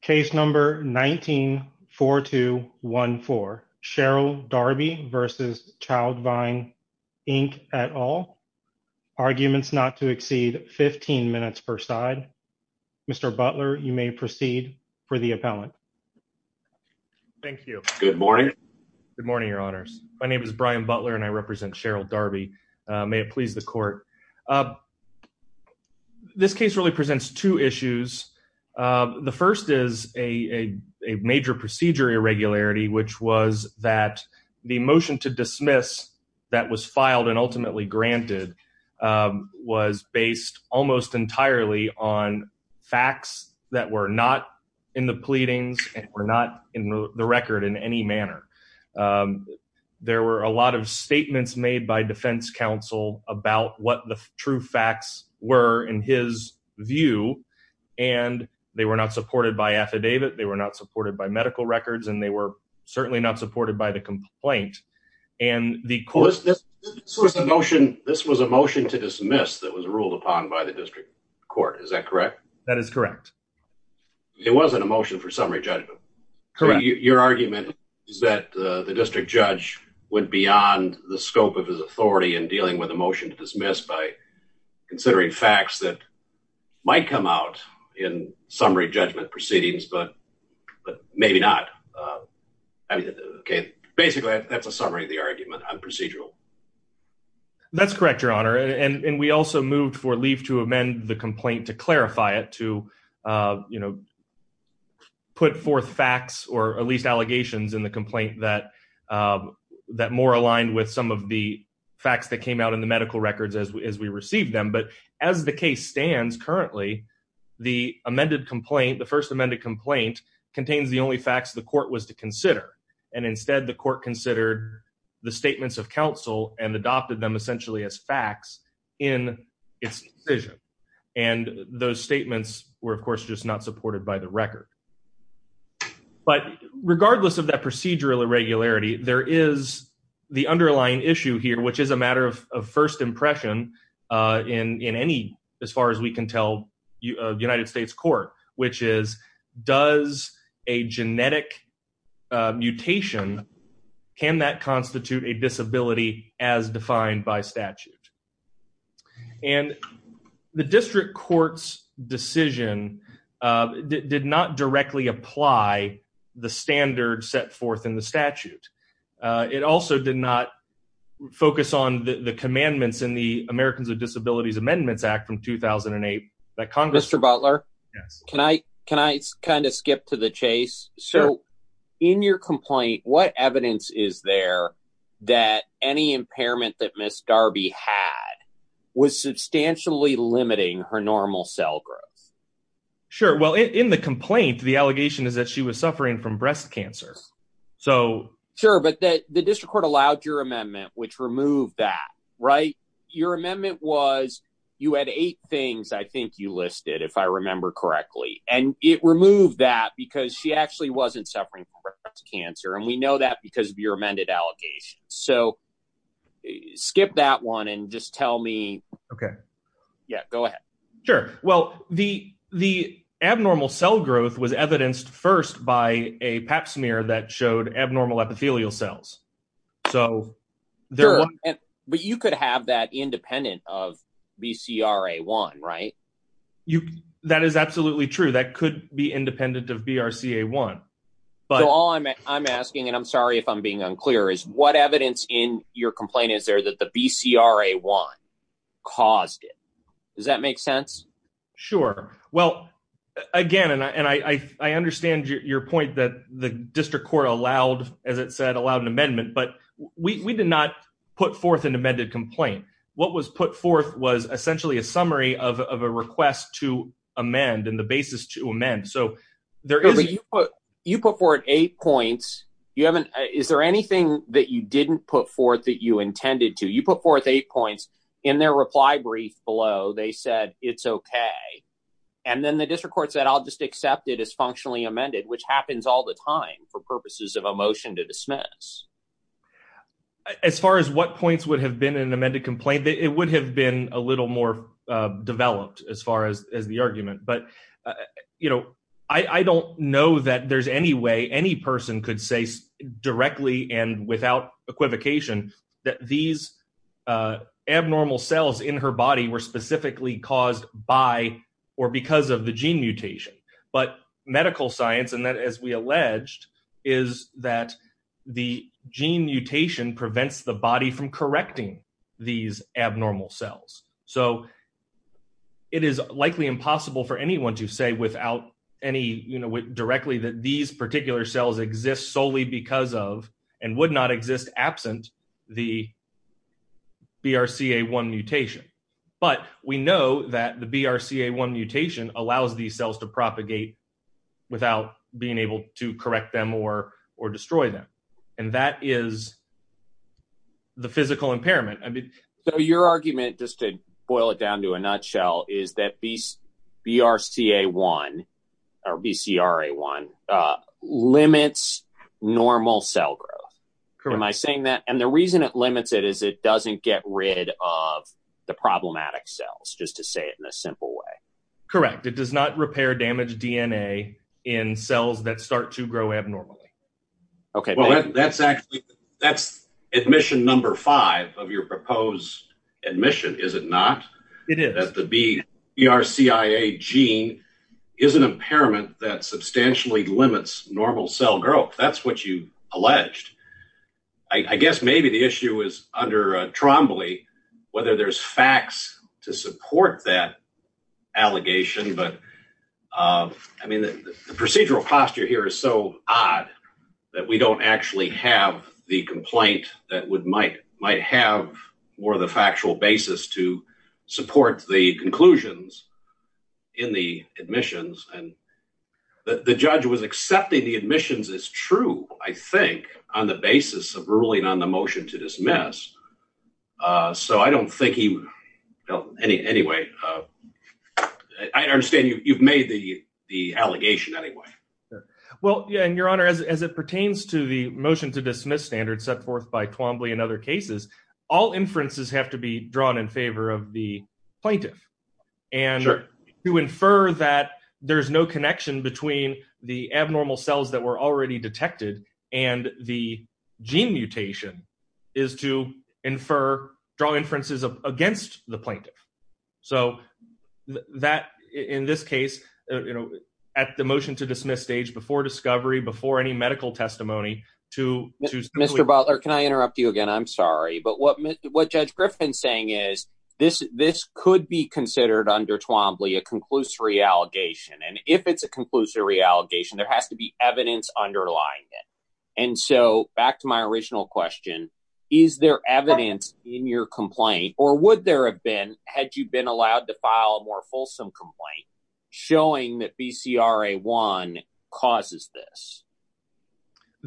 Case number 19-4214. Sherryl Darby v. Childvine Inc. at all. Arguments not to exceed 15 minutes per side. Mr. Butler, you may proceed for the appellant. Thank you. Good morning. Good morning, your honors. My name is Brian Butler and I represent Sherryl Darby. May it please the court. This case really presents two issues. The first is a major procedure irregularity which was that the motion to dismiss that was filed and ultimately granted was based almost entirely on facts that were not in the pleadings and were not in the record in any manner. There were a lot of statements made by defense counsel about what the true facts were in his view and they were not supported by affidavit, they were not supported by medical records, and they were certainly not supported by the complaint. This was a motion to dismiss that was ruled upon by the district court, is that correct? That is correct. It wasn't a motion for the district judge went beyond the scope of his authority in dealing with a motion to dismiss by considering facts that might come out in summary judgment proceedings, but maybe not. Okay, basically that's a summary of the argument on procedural. That's correct, your honor, and we also moved for leave to amend the complaint to clarify it, to you know, put forth facts or at least allegations in the complaint that more aligned with some of the facts that came out in the medical records as we received them, but as the case stands currently the amended complaint, the first amended complaint, contains the only facts the court was to consider and instead the court considered the statements of counsel and adopted them just not supported by the record. But regardless of that procedural irregularity, there is the underlying issue here, which is a matter of first impression in any, as far as we can tell, United States court, which is does a genetic mutation, can that constitute a disability as defined by statute? And the district court's decision did not directly apply the standard set forth in the statute. It also did not focus on the commandments in the Americans with Disabilities Amendments Act from 2008 that Congress... Mr. Butler, can I kind of skip to the impairment that Ms. Darby had was substantially limiting her normal cell growth? Sure. Well, in the complaint, the allegation is that she was suffering from breast cancer, so... Sure, but that the district court allowed your amendment, which removed that, right? Your amendment was, you had eight things, I think you listed, if I remember correctly, and it removed that because she actually wasn't suffering from breast cancer, and we know that because of your amended allegation. So skip that one and just tell me... Okay. Yeah, go ahead. Sure. Well, the abnormal cell growth was evidenced first by a pap smear that showed abnormal epithelial cells. So... Sure, but you could have that independent of BCRA1, right? That is absolutely true. That could be independent of BRCA1, but... So all I'm asking, and I'm sorry if I'm being unclear, is what evidence in your complaint is there that the BCRA1 caused it? Does that make sense? Sure. Well, again, and I understand your point that the district court allowed, as it said, allowed an amendment, but we did not put forth an amended complaint. What was put forth was essentially a summary of a request to amend and the basis to amend. So there is... No, but you put forth eight points. Is there anything that you didn't put forth that you intended to? You put forth eight points. In their reply brief below, they said, it's okay. And then the district court said, I'll just accept it as functionally amended, which happens all the time for purposes of a motion to dismiss. As far as what points would have been in an amended complaint, it would have been a little more developed as far as the argument. But I don't know that there's any way any person could say directly and without equivocation that these abnormal cells in her body were specifically caused by or because of the gene mutation. But medical science, and that, as we alleged, is that the gene mutation prevents the body from correcting these abnormal cells. So it is likely impossible for anyone to say without any, you know, directly that these particular cells exist solely because of and would not exist absent the BRCA1 mutation. But we know that the destroy them. And that is the physical impairment. So your argument, just to boil it down to a nutshell, is that BRCA1 or BCRA1 limits normal cell growth. Am I saying that? And the reason it limits it is it doesn't get rid of the problematic cells, just to say it in a simple way. Correct. It does not repair damaged DNA in cells that start to grow abnormally. Okay. Well, that's actually, that's admission number five of your proposed admission, is it not? It is. That the BRCIA gene is an impairment that substantially limits normal cell growth. That's what you alleged. I guess maybe the issue is under Trombley, whether there's facts to support that allegation. But I mean, the procedural posture here is so odd that we don't actually have the complaint that might have more of the factual basis to support the conclusions in the admissions. And the judge was accepting the admissions as true, I think, on the basis of ruling on the motion to dismiss. So I don't think he... Anyway, I understand you've made the allegation anyway. Well, yeah. And your honor, as it pertains to the motion to dismiss standard set forth by Trombley and other cases, all inferences have to be drawn in favor of the plaintiff. And to infer that there's no connection between the abnormal cells that were already detected and the gene mutation is to infer, draw inferences against the plaintiff. So that, in this case, at the motion to dismiss stage before discovery, before any medical testimony, to... Mr. Butler, can I interrupt you again? I'm sorry. But what Judge Griffin's saying is this could be considered under Trombley a conclusory allegation. And if it's a conclusory allegation, there has to be evidence underlying it. And so back to my original question, is there evidence in your complaint or would there have been had you been allowed to file a more fulsome complaint showing that BCRA1 causes this?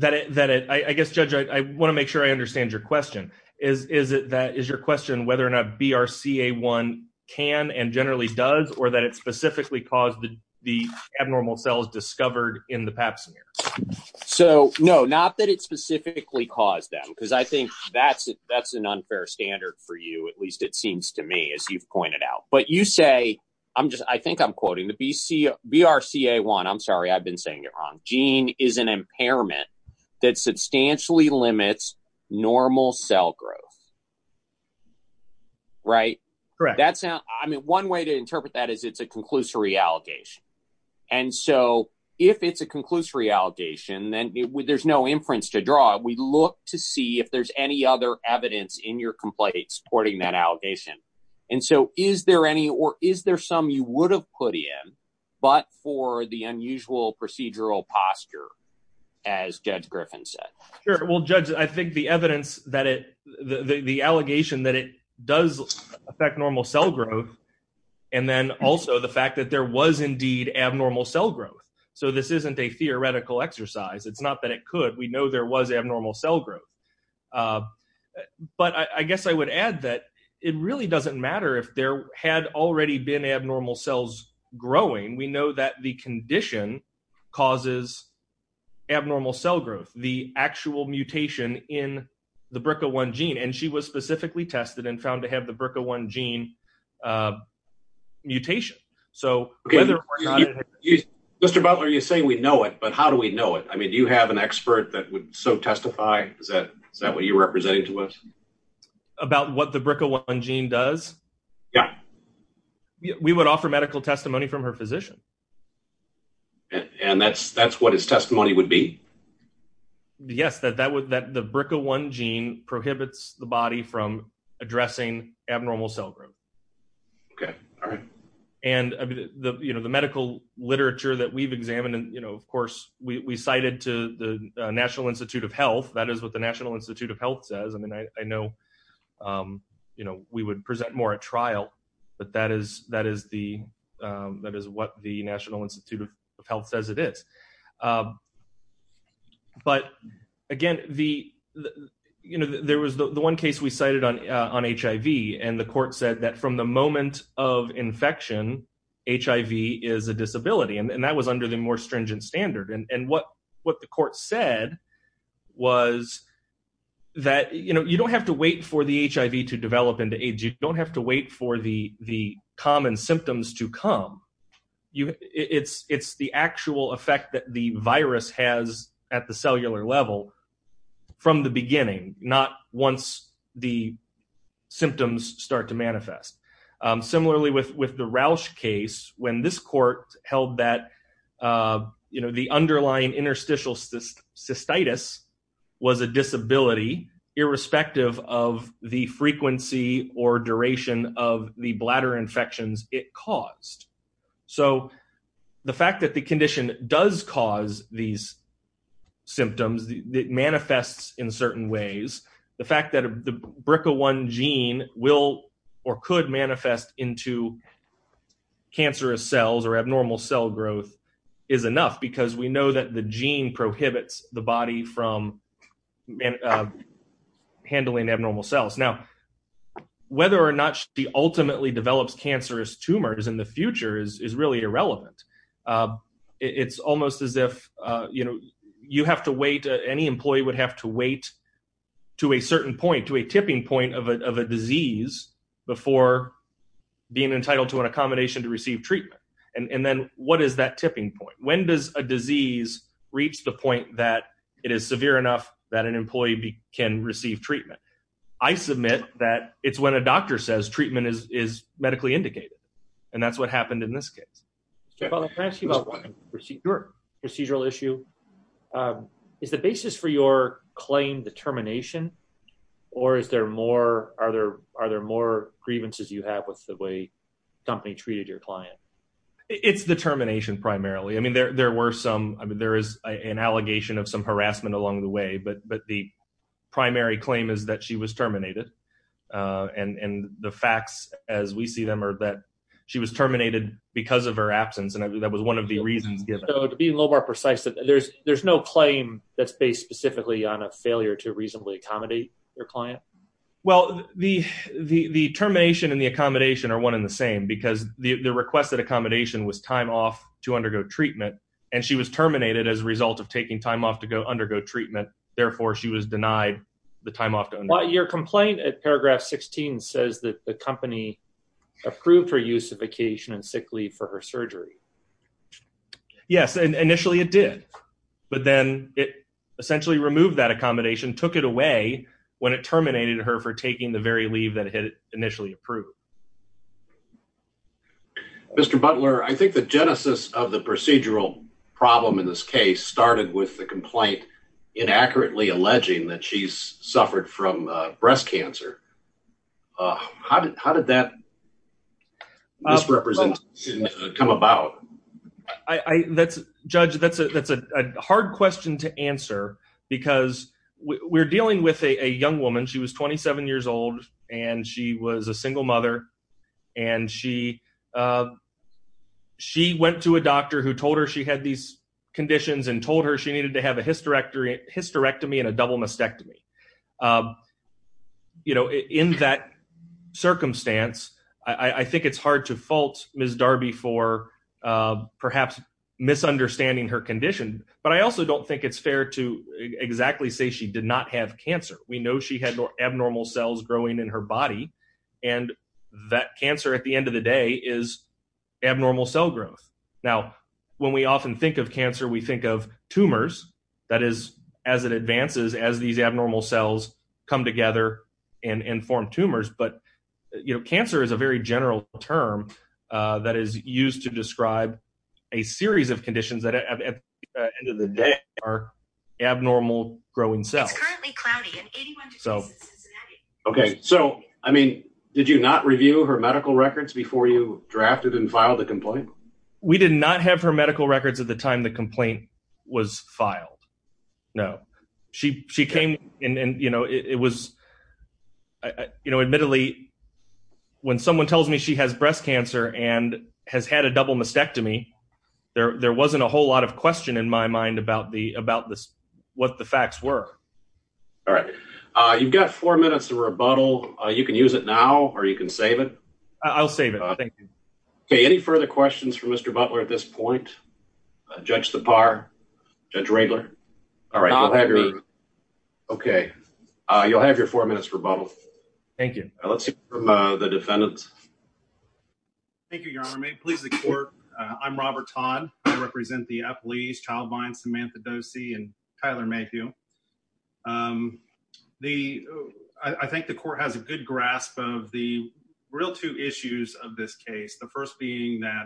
I guess, Judge, I want to make sure I understand your question. Is your question whether or not BRCA1 can and generally does or it specifically caused the abnormal cells discovered in the pap smear? So no, not that it specifically caused them, because I think that's an unfair standard for you. At least it seems to me, as you've pointed out. But you say, I'm just, I think I'm quoting the BRCA1. I'm sorry, I've been saying it wrong. Gene is an impairment that substantially limits normal cell growth. Right, correct. That's I mean, one way to interpret that is it's a conclusory allegation. And so if it's a conclusory allegation, then there's no inference to draw. We look to see if there's any other evidence in your complaint supporting that allegation. And so is there any or is there some you would have put in, but for the unusual procedural posture, as Judge Griffin said? Sure. Well, Judge, I think the evidence that it, the allegation that it does affect normal cell growth, and then also the fact that there was indeed abnormal cell growth. So this isn't a theoretical exercise. It's not that it could, we know there was abnormal cell growth. But I guess I would add that it really doesn't matter if there had already been abnormal cells growing. We know that the condition causes abnormal cell growth, the actual mutation in the BRCA1 gene. And she was specifically tested and found to have the BRCA1 gene mutation. So Mr. Butler, you're saying we know it, but how do we know it? I mean, do you have an expert that would so testify? Is that what you're representing to us? About what the BRCA1 gene does? Yeah. We would offer medical testimony from her physician. And that's what his testimony would be? Yes, that the BRCA1 gene prohibits the body from addressing abnormal cell growth. Okay. All right. And the medical literature that we've examined, of course, we cited to the National Institute of Health. That is what the National Institute of Health says. I mean, I know we would present more at trial, but that is what the National Institute of Health says it is. But again, there was the one case we cited on HIV, and the court said that from the moment of infection, HIV is a disability. And that was under the more stringent standard. And what the court said was that you don't have to wait for the HIV to develop into AIDS. You don't have to wait for the common symptoms to come. It's the actual effect that the virus has at the cellular level from the beginning, not once the symptoms start to develop. The underlying interstitial cystitis was a disability irrespective of the frequency or duration of the bladder infections it caused. So the fact that the condition does cause these symptoms, it manifests in certain ways. The fact that the BRCA1 gene will or could manifest into cancerous cells or abnormal cell growth is enough because we know that the gene prohibits the body from handling abnormal cells. Now, whether or not she ultimately develops cancerous tumors in the future is really irrelevant. It's almost as if you have to wait, any employee would have to wait to a certain point, to a tipping point of a disease before being entitled to an abomination to receive treatment. And then what is that tipping point? When does a disease reach the point that it is severe enough that an employee can receive treatment? I submit that it's when a doctor says treatment is medically indicated. And that's what happened in this case. Robert, can I ask you about one procedural issue? Is the basis for your claim determination or are there more grievances you have with the way the company treated your client? It's the termination primarily. I mean, there is an allegation of some harassment along the way, but the primary claim is that she was terminated. And the facts as we see them are that she was terminated because of her absence. And I think that was one of the reasons given. So to be a little more precise, there's no claim that's based specifically on a failure to reasonably accommodate your client? Well, the termination and the accommodation are one and the same because the requested accommodation was time off to undergo treatment and she was terminated as a result of taking time off to go undergo treatment. Therefore, she was denied the time off. Your complaint at paragraph 16 says that the company approved her use of vacation and sick leave for her surgery. Yes, initially it did. But then it essentially removed that accommodation, took it away when it terminated her for taking the very leave that it had initially approved. Mr. Butler, I think the genesis of the procedural problem in this case started with the complaint inaccurately alleging that she's suffered from breast cancer. How did that misrepresentation come about? Judge, that's a hard question to answer because we're dealing with a young woman. She was 27 years old and she was a single mother. And she went to a doctor who told her she had these conditions and told her she needed to have a hysterectomy and a double mastectomy. You know, in that circumstance, I think it's hard to fault Ms. Darby for perhaps misunderstanding her condition. But I also don't think it's fair to exactly say she did not have cancer. We know she had abnormal cells growing in her body. And that cancer at the end of the day is abnormal cell growth. Now, when we often think of cancer, we think of tumors. That is, as it is, abnormal cells come together and form tumors. But, you know, cancer is a very general term that is used to describe a series of conditions that at the end of the day are abnormal growing cells. Okay. So, I mean, did you not review her medical records before you drafted and filed the complaint? We did not have her medical records at the time the complaint was filed. No. She came and, you know, it was, you know, admittedly, when someone tells me she has breast cancer and has had a double mastectomy, there wasn't a whole lot of question in my mind about what the facts were. All right. You've got four minutes to rebuttal. You can use it now or you can save it. I'll save it. Thank you. Okay. Any further questions for Mr. Butler at this point? Judge Sipar? Judge Radler? All right. Okay. You'll have your four minutes for rebuttal. Thank you. Let's hear from the defendants. Thank you, Your Honor. May it please the court. I'm Robert Todd. I represent the appellees, Childvine, Samantha Dosey, and Tyler Mayhew. I think the court has a good grasp of the real two issues of this case. The first being that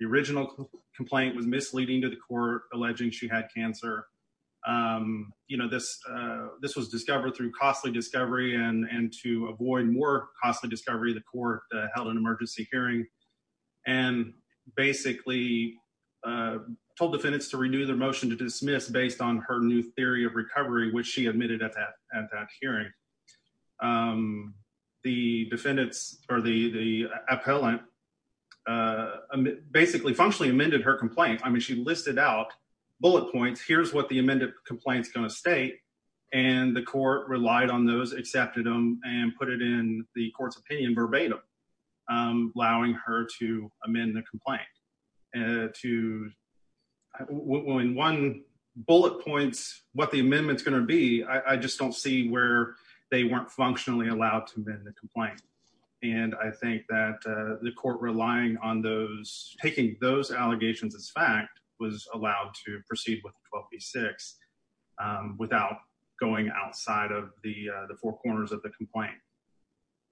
the original complaint was misleading to the court alleging she had cancer. You know, this was discovered through costly discovery and to avoid more costly discovery, the court held an emergency hearing and basically told defendants to renew their motion to dismiss based on her new theory of recovery, which she admitted at that hearing. The defendants or the appellant basically functionally amended her complaint. I mean, she listed out bullet points. Here's what the amended complaint is going to state, and the court relied on those, accepted them, and put it in the court's opinion verbatim, allowing her to amend the complaint. When one bullet points what the amendment is going to be, I just don't see where they weren't functionally allowed to amend the complaint, and I think that the court relying on those, taking those allegations as fact, was allowed to proceed with 12 v. 6 without going outside of the four corners of the complaint.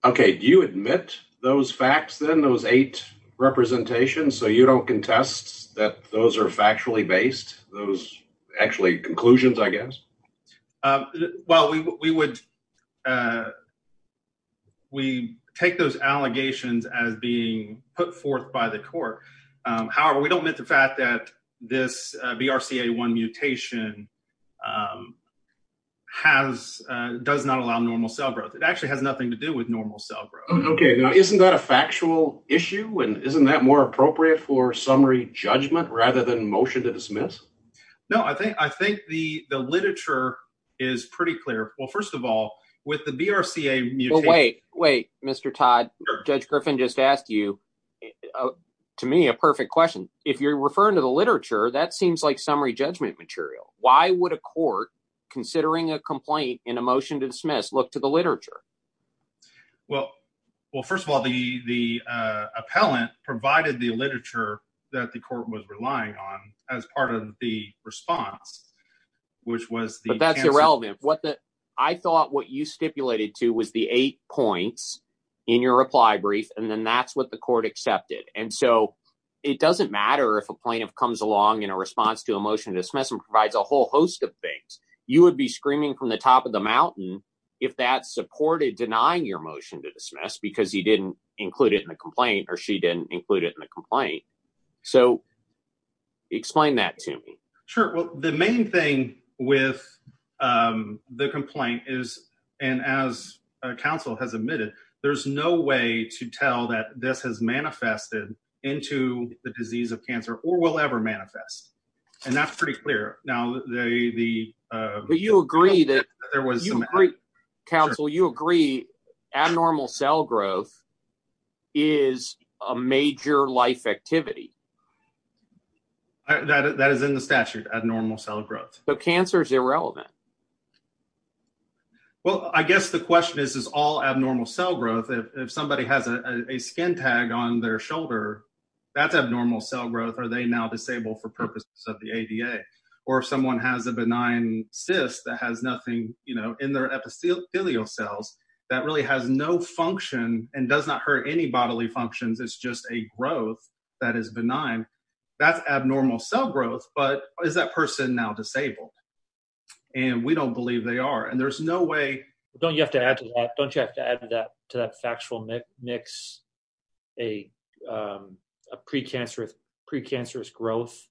Okay, do you admit those facts then, those eight representations, so you don't contest that those are factually based, those actually conclusions, I guess? Well, we would, we take those allegations as being put forth by the court. However, we don't admit the fact that this BRCA1 mutation has, does not allow normal cell growth. It actually has nothing to do with normal cell growth. Okay, now isn't that a factual issue, and isn't that more appropriate for summary judgment rather than motion to dismiss? No, I think the literature is pretty clear. Well, first of all, with the BRCA mutation... Wait, wait, Mr. Todd, Judge Griffin just asked you, to me, a perfect question. If you're referring to the literature, that seems like summary judgment material. Why would a court, considering a complaint in a motion to dismiss, look to the as part of the response? But that's irrelevant. I thought what you stipulated to was the eight points in your reply brief, and then that's what the court accepted. And so it doesn't matter if a plaintiff comes along in a response to a motion to dismiss and provides a whole host of things. You would be screaming from the top of the mountain if that supported denying your motion to dismiss because he didn't include it in the complaint, or she didn't include it in the complaint. Explain that to me. Sure. Well, the main thing with the complaint is, and as counsel has admitted, there's no way to tell that this has manifested into the disease of cancer or will ever manifest. And that's pretty clear. But you agree that... Counsel, you agree abnormal cell growth is a major life activity. That is in the statute, abnormal cell growth. But cancer is irrelevant. Well, I guess the question is, is all abnormal cell growth. If somebody has a skin tag on their shoulder, that's abnormal cell growth. Are they now disabled for purposes of the ADA? Or if someone has a benign cyst that has nothing in their epithelial cells that really has no function and does not hurt any bodily functions, it's just a growth that is benign, that's abnormal cell growth. But is that person now disabled? And we don't believe they are. And there's no way... Don't you have to add to that, don't you have to add to that, to that factual mix, a precancerous growth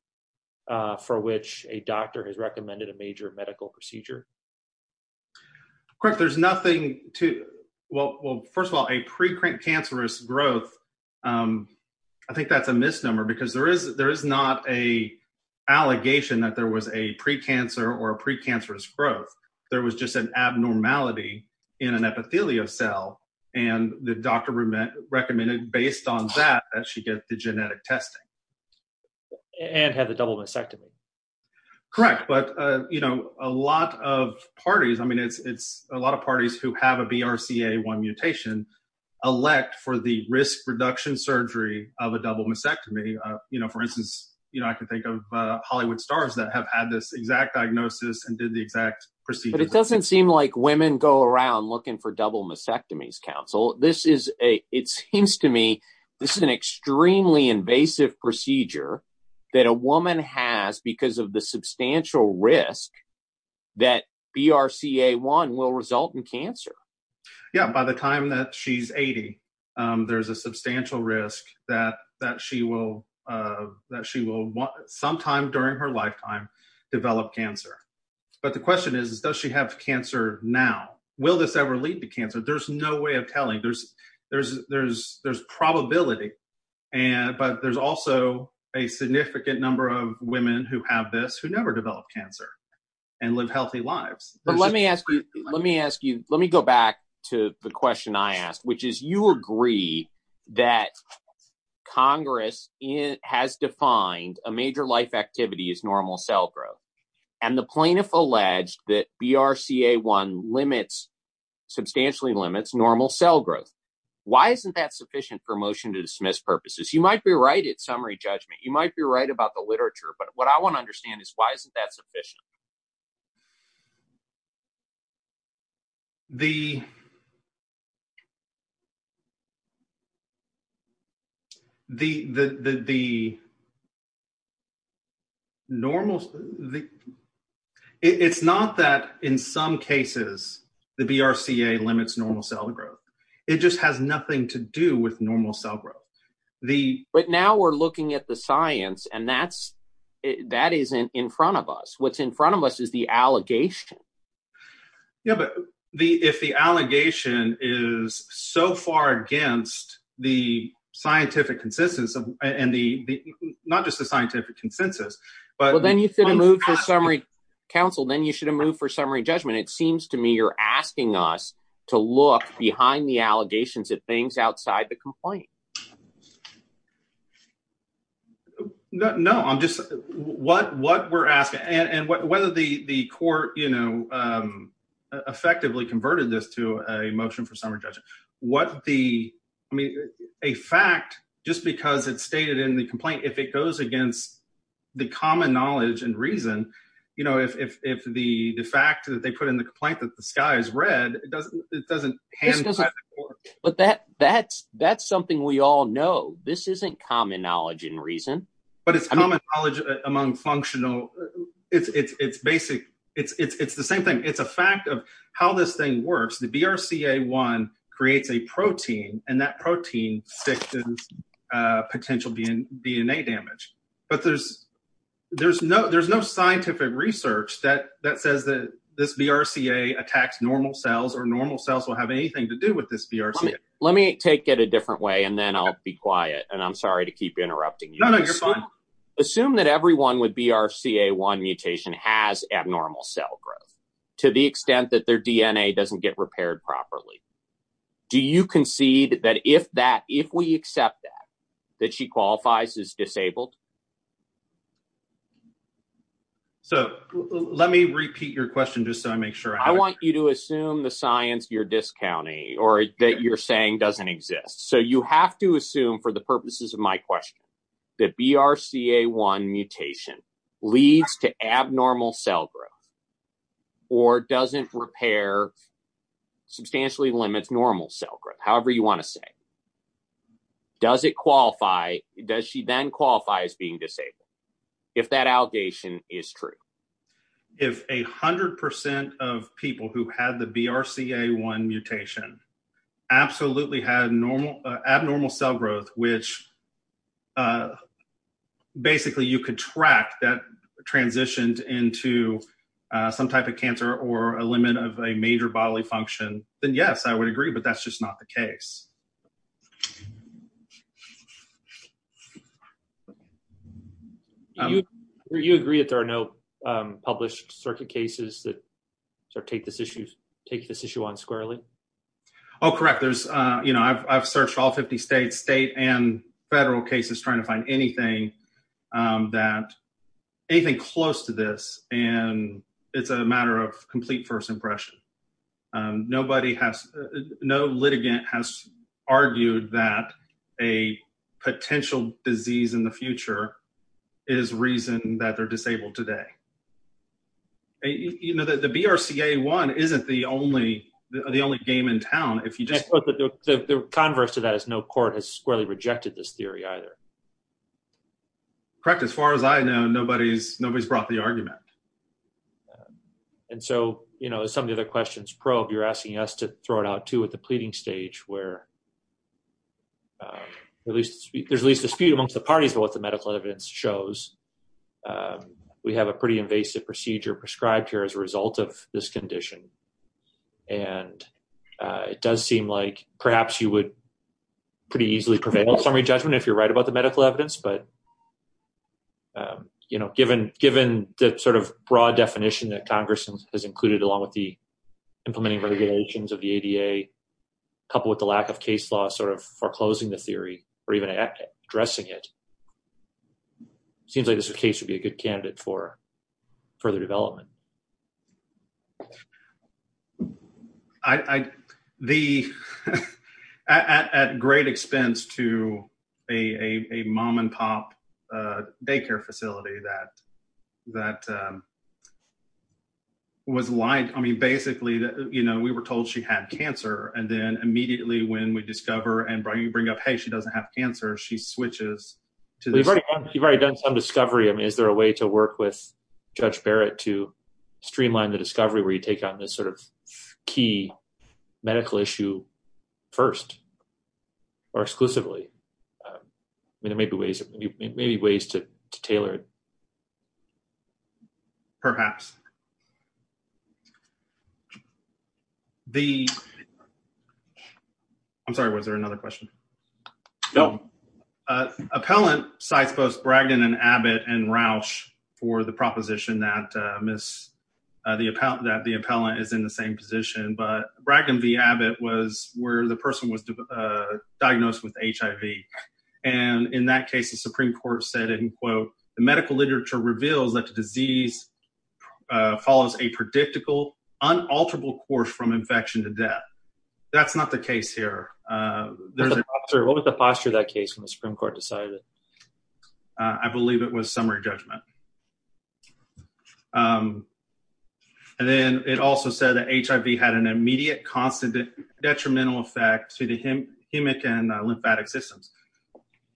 for which a doctor has recommended a major medical procedure? Correct. There's nothing to... Well, first of all, a precancerous growth, I think that's a misnomer because there is not a allegation that there was a precancer or a precancerous growth. There was just an abnormality in an epithelial cell, and the doctor recommended based on that, that she get the genetic testing. And had the double disectomy. Correct. But a lot of parties, I mean, it's a lot of parties who have a BRCA1 mutation, elect for the risk reduction surgery of a double mastectomy. For instance, I can think of Hollywood stars that have had this exact diagnosis and did the exact procedure. But it doesn't seem like women go around looking for double mastectomies, Council. It seems to me this is an extremely invasive procedure that a woman has because of the substantial risk that BRCA1 will result in cancer. Yeah. By the time that she's 80, there's a substantial risk that she will sometime during her lifetime develop cancer. But the question is, does she have cancer now? Will this ever lead to cancer? There's no way telling. There's probability. But there's also a significant number of women who have this who never develop cancer and live healthy lives. But let me ask you, let me go back to the question I asked, which is you agree that Congress has defined a major life activity as normal cell and the plaintiff alleged that BRCA1 limits, substantially limits normal cell growth. Why isn't that sufficient for motion to dismiss purposes? You might be right at summary judgment. You might be right about the literature, but what I want to understand is why isn't that sufficient? The, the, the, the normal, the, it's not that in some cases, the BRCA1 limits normal cell growth. It just has nothing to do with normal cell growth. The, but now we're looking at the science and that's, that isn't in front of us. What's in front of us is the science. And the science is the allegation. Yeah, but the, if the allegation is so far against the scientific consistence of, and the, the, not just the scientific consensus, but then you should have moved for summary counsel, then you should have moved for summary judgment. It seems to me, you're asking us to look behind the allegations of things outside the complaint. No, no, I'm just, what, what we're asking and, and what, whether the, the court, you know, effectively converted this to a motion for summary judgment. What the, I mean, a fact, just because it's stated in the complaint, if it goes against the common knowledge and reason, you know, if, if, if the, the fact that they put in the complaint that the sky is red, it doesn't, it doesn't hand. But that, that's, that's something we are know. This isn't common knowledge and reason, but it's common knowledge among functional. It's, it's, it's basic. It's, it's, it's the same thing. It's a fact of how this thing works. The BRCA one creates a protein and that protein, uh, potential being DNA damage, but there's, there's no, there's no scientific research that, that says that this BRCA attacks normal cells or normal cells will have anything to do with this BRCA. Let me take it a different way. And then I'll be quiet and I'm sorry to keep interrupting you assume that everyone would be our CA one mutation has abnormal cell growth to the extent that their DNA doesn't get repaired properly. Do you concede that if that, if we accept that, that she qualifies as disabled? So let me repeat your question just so I make sure I want you to assume the science, your discounting, or that you're saying doesn't exist. So you have to assume for the purposes of my question, that BRCA one mutation leads to abnormal cell growth or doesn't repair substantially limits, normal cell growth. However you want to say, does it qualify? Does she then qualify as being disabled? If that allegation is true, if a hundred percent of people who had the BRCA one mutation absolutely had normal, abnormal cell growth, which, uh, basically you could track that transitioned into, uh, some type of cancer or a limit of a major bodily function, then yes, I would agree, but that's published circuit cases that sort of take this issue, take this issue on squarely. Oh, correct. There's, uh, you know, I've, I've searched all 50 states, state and federal cases, trying to find anything, um, that anything close to this. And it's a matter of complete first impression. Um, nobody has no litigant has argued that a potential disease in the future is reason that they're disabled today. You know, the, the BRCA one, isn't the only, the only game in town. If you just put the converse to that as no court has squarely rejected this theory either. Correct. As far as I know, nobody's, nobody's brought the argument. And so, you know, some of the other questions probe, you're asking us to throw it out too, at the pleading stage where, uh, at least there's at least dispute amongst the parties, what the medical evidence shows. Um, we have a pretty invasive procedure prescribed here as a result of this condition. And, uh, it does seem like perhaps you would pretty easily prevail on summary judgment if you're right about the medical evidence, but, um, you know, given, given the sort of broad definition that Congress has included along with the implementing regulations of the ADA couple with the lack of case law, sort of foreclosing the theory or even addressing it, it seems like this case would be a good candidate for further development. I, I, the, at, at, at great expense to a, a, a mom and pop, uh, daycare facility that, that, um, was like, I mean, basically, you know, we were told she had cancer and then she switches to this. You've already done some discovery. I mean, is there a way to work with judge Barrett to streamline the discovery where you take on this sort of key medical issue first or exclusively? Um, I mean, there may be ways, maybe ways to tailor it. Perhaps the, I'm sorry, was there another question? No, uh, appellant sites, both Bragdon and Abbott and Roush for the proposition that, uh, miss, uh, the appellant that the appellant is in the same position, but Bragdon v. Abbott was where the person was, uh, diagnosed with HIV. And in that case, the Supreme court said in quote, the medical literature reveals that the disease, uh, follows a predictable unalterable course from infection to death. That's not the case here. Uh, there's an officer. What was the posture of that case when the Supreme court decided it? Uh, I believe it was summary judgment. Um, and then it also said that HIV had an immediate constant detrimental effect to the hem, hemic and lymphatic systems.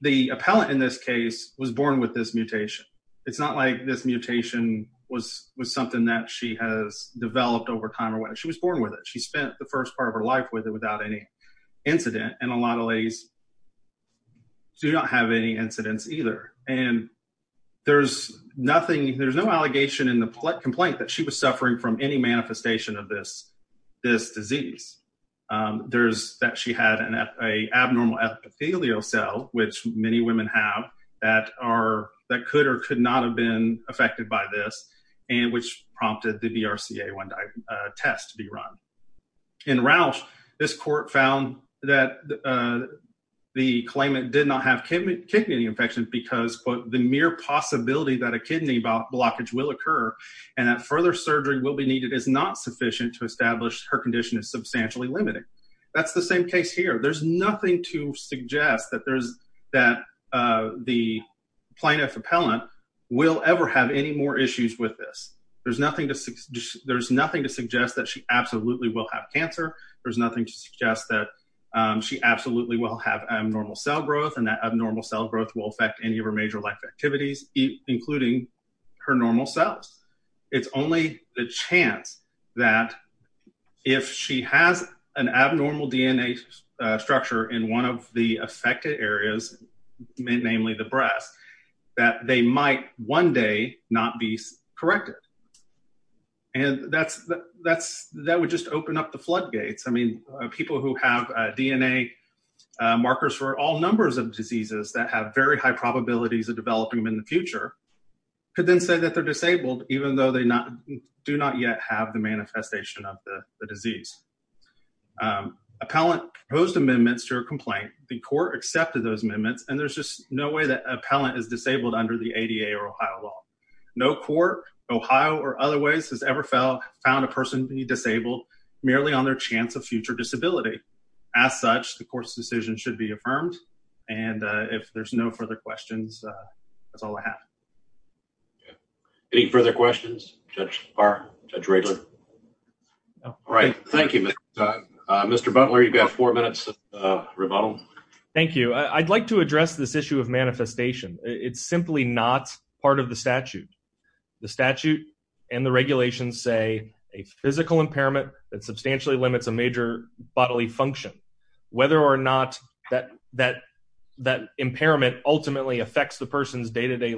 The appellant in this case was born with this mutation. It's not like this mutation was, was something that she has developed over time or whatever. She was born with it. She spent the first part of her life with it without any incident. And a lot of ladies do not have any incidents either. And there's nothing, there's no allegation in the complaint that she was suffering from any manifestation of this, this disease. Um, there's that she had an F a abnormal epithelial cell, which many women have that are, that could or could not have been affected by this. And which prompted the BRCA test to be run in Roush. This court found that, uh, the claimant did not have kidney infection because the mere possibility that a kidney blockage will occur and that further surgery will be needed is not sufficient to establish her condition is substantially limited. That's the same case here. There's nothing to suggest that there's that, uh, the plaintiff appellant will ever have any more issues with this. There's nothing to, there's nothing to suggest that she absolutely will have cancer. There's nothing to suggest that, um, she absolutely will have abnormal cell growth and that abnormal cell growth will affect any of her major life activities, including her normal cells. It's she has an abnormal DNA structure in one of the affected areas, namely the breast, that they might one day not be corrected. And that's, that's, that would just open up the floodgates. I mean, people who have a DNA, uh, markers for all numbers of diseases that have very high probabilities of developing them in the future could then say that they're disabled, even though they not do not yet have the manifestation of the disease. Um, appellant posed amendments to her complaint. The court accepted those amendments and there's just no way that appellant is disabled under the ADA or Ohio law. No court, Ohio or other ways has ever fell, found a person to be disabled merely on their chance of future disability. As such, the court's decision should be affirmed. And, uh, if there's no further questions, uh, that's all I have. Yeah. Any further questions? Judge or judge? Right. All right. Thank you, Mr. Butler. You've got four minutes. Uh, rebuttal. Thank you. I'd like to address this issue of manifestation. It's simply not part of the statute, the statute and the regulations say a physical impairment that substantially limits a major bodily function, whether or not that, that, that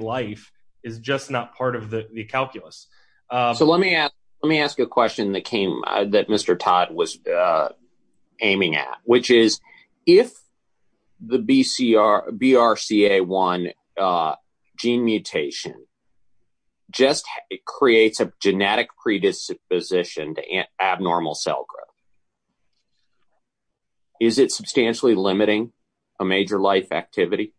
life is just not part of the calculus. Uh, so let me ask, let me ask you a question that came that Mr. Todd was, uh, aiming at, which is if the BCR BRCA1, uh, gene mutation just creates a genetic predisposition to abnormal cell growth, is it substantially limiting a major life activity?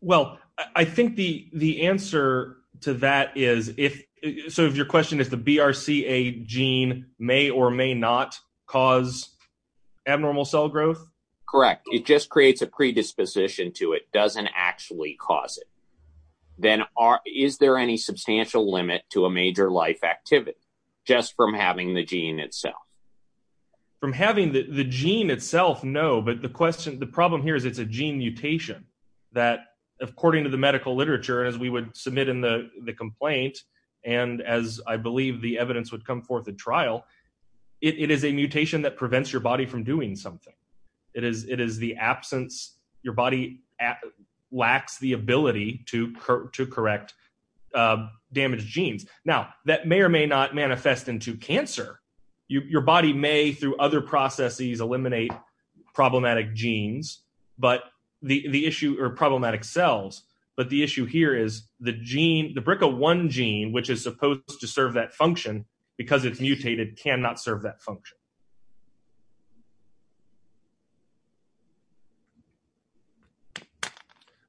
Well, I think the, the answer to that is if, so if your question is the BRCA gene may or may not cause abnormal cell growth. Correct. It just creates a predisposition to it. Doesn't actually cause it. Then are, is there any substantial limit to a major life activity just from having the gene itself? From having the gene itself? No. But the question, the problem here is it's a gene mutation that according to the medical literature, as we would submit in the complaint. And as I believe the evidence would come forth at trial, it is a mutation that prevents your body from doing something. It is, it is the absence, your body lacks the ability to, to correct, uh, damaged genes. Now that may or may not manifest into cancer. You, your body may through other processes eliminate problematic genes, but the, the issue or problematic cells, but the issue here is the gene, the BRCA1 gene, which is supposed to serve that function because it's mutated cannot serve that function.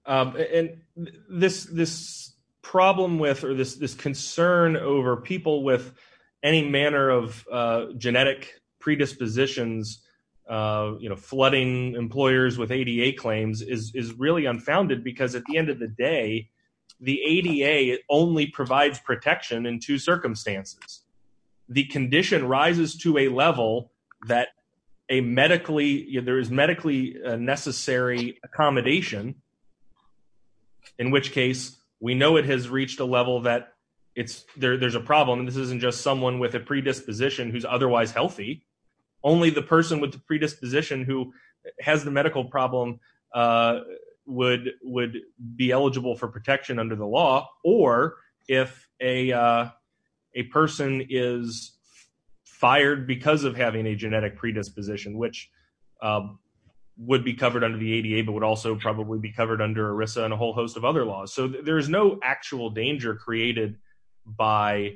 Um, and this, this problem with, or this, this concern over people with any manner of, uh, genetic predispositions, uh, you know, flooding employers with ADA claims is, is really unfounded because at the end of the day, the ADA only provides protection in two circumstances. The condition rises to a level that a medically, there is medically necessary accommodation, in which case we know it has reached a level that it's there, there's a problem. And this isn't just someone with a predisposition who's otherwise healthy. Only the person with the predisposition who has the medical problem, uh, would, would be eligible for protection under the ADA. The person is fired because of having a genetic predisposition, which, um, would be covered under the ADA, but would also probably be covered under ERISA and a whole host of other laws. So there is no actual danger created by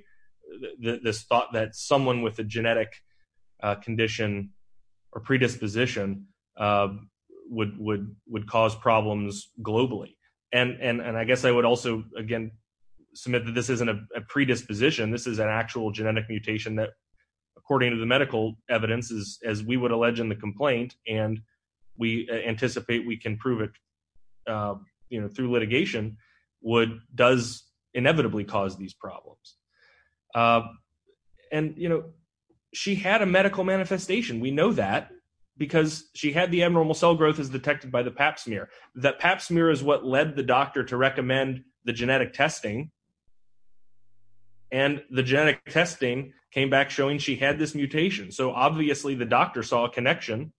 this thought that someone with a genetic, uh, condition or predisposition, uh, would, would, would cause problems globally. And, and, and I guess I would also, again, submit that this isn't a predisposition. This is an actual genetic mutation that according to the medical evidences, as we would allege in the complaint, and we anticipate we can prove it, um, you know, through litigation would, does inevitably cause these problems. Um, and you know, she had a medical manifestation. We know that because she had the abnormal cell growth is detected by the pap smear. That pap smear is what led the doctor to recommend the genetic testing. And the genetic testing came back showing she had this mutation. So obviously the doctor saw a connection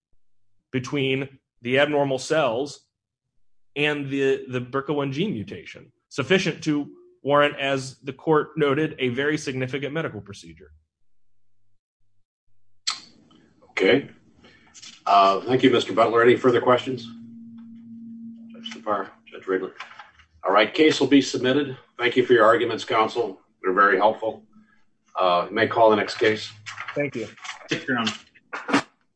between the abnormal cells and the BRCA1G mutation, sufficient to warrant, as the court noted, a very significant medical procedure. Okay. Uh, thank you, Mr. Butler. Any further questions? All right. Case will be submitted. Thank you for your arguments. Counsel. We're very helpful. Uh, may call the next case. Thank you.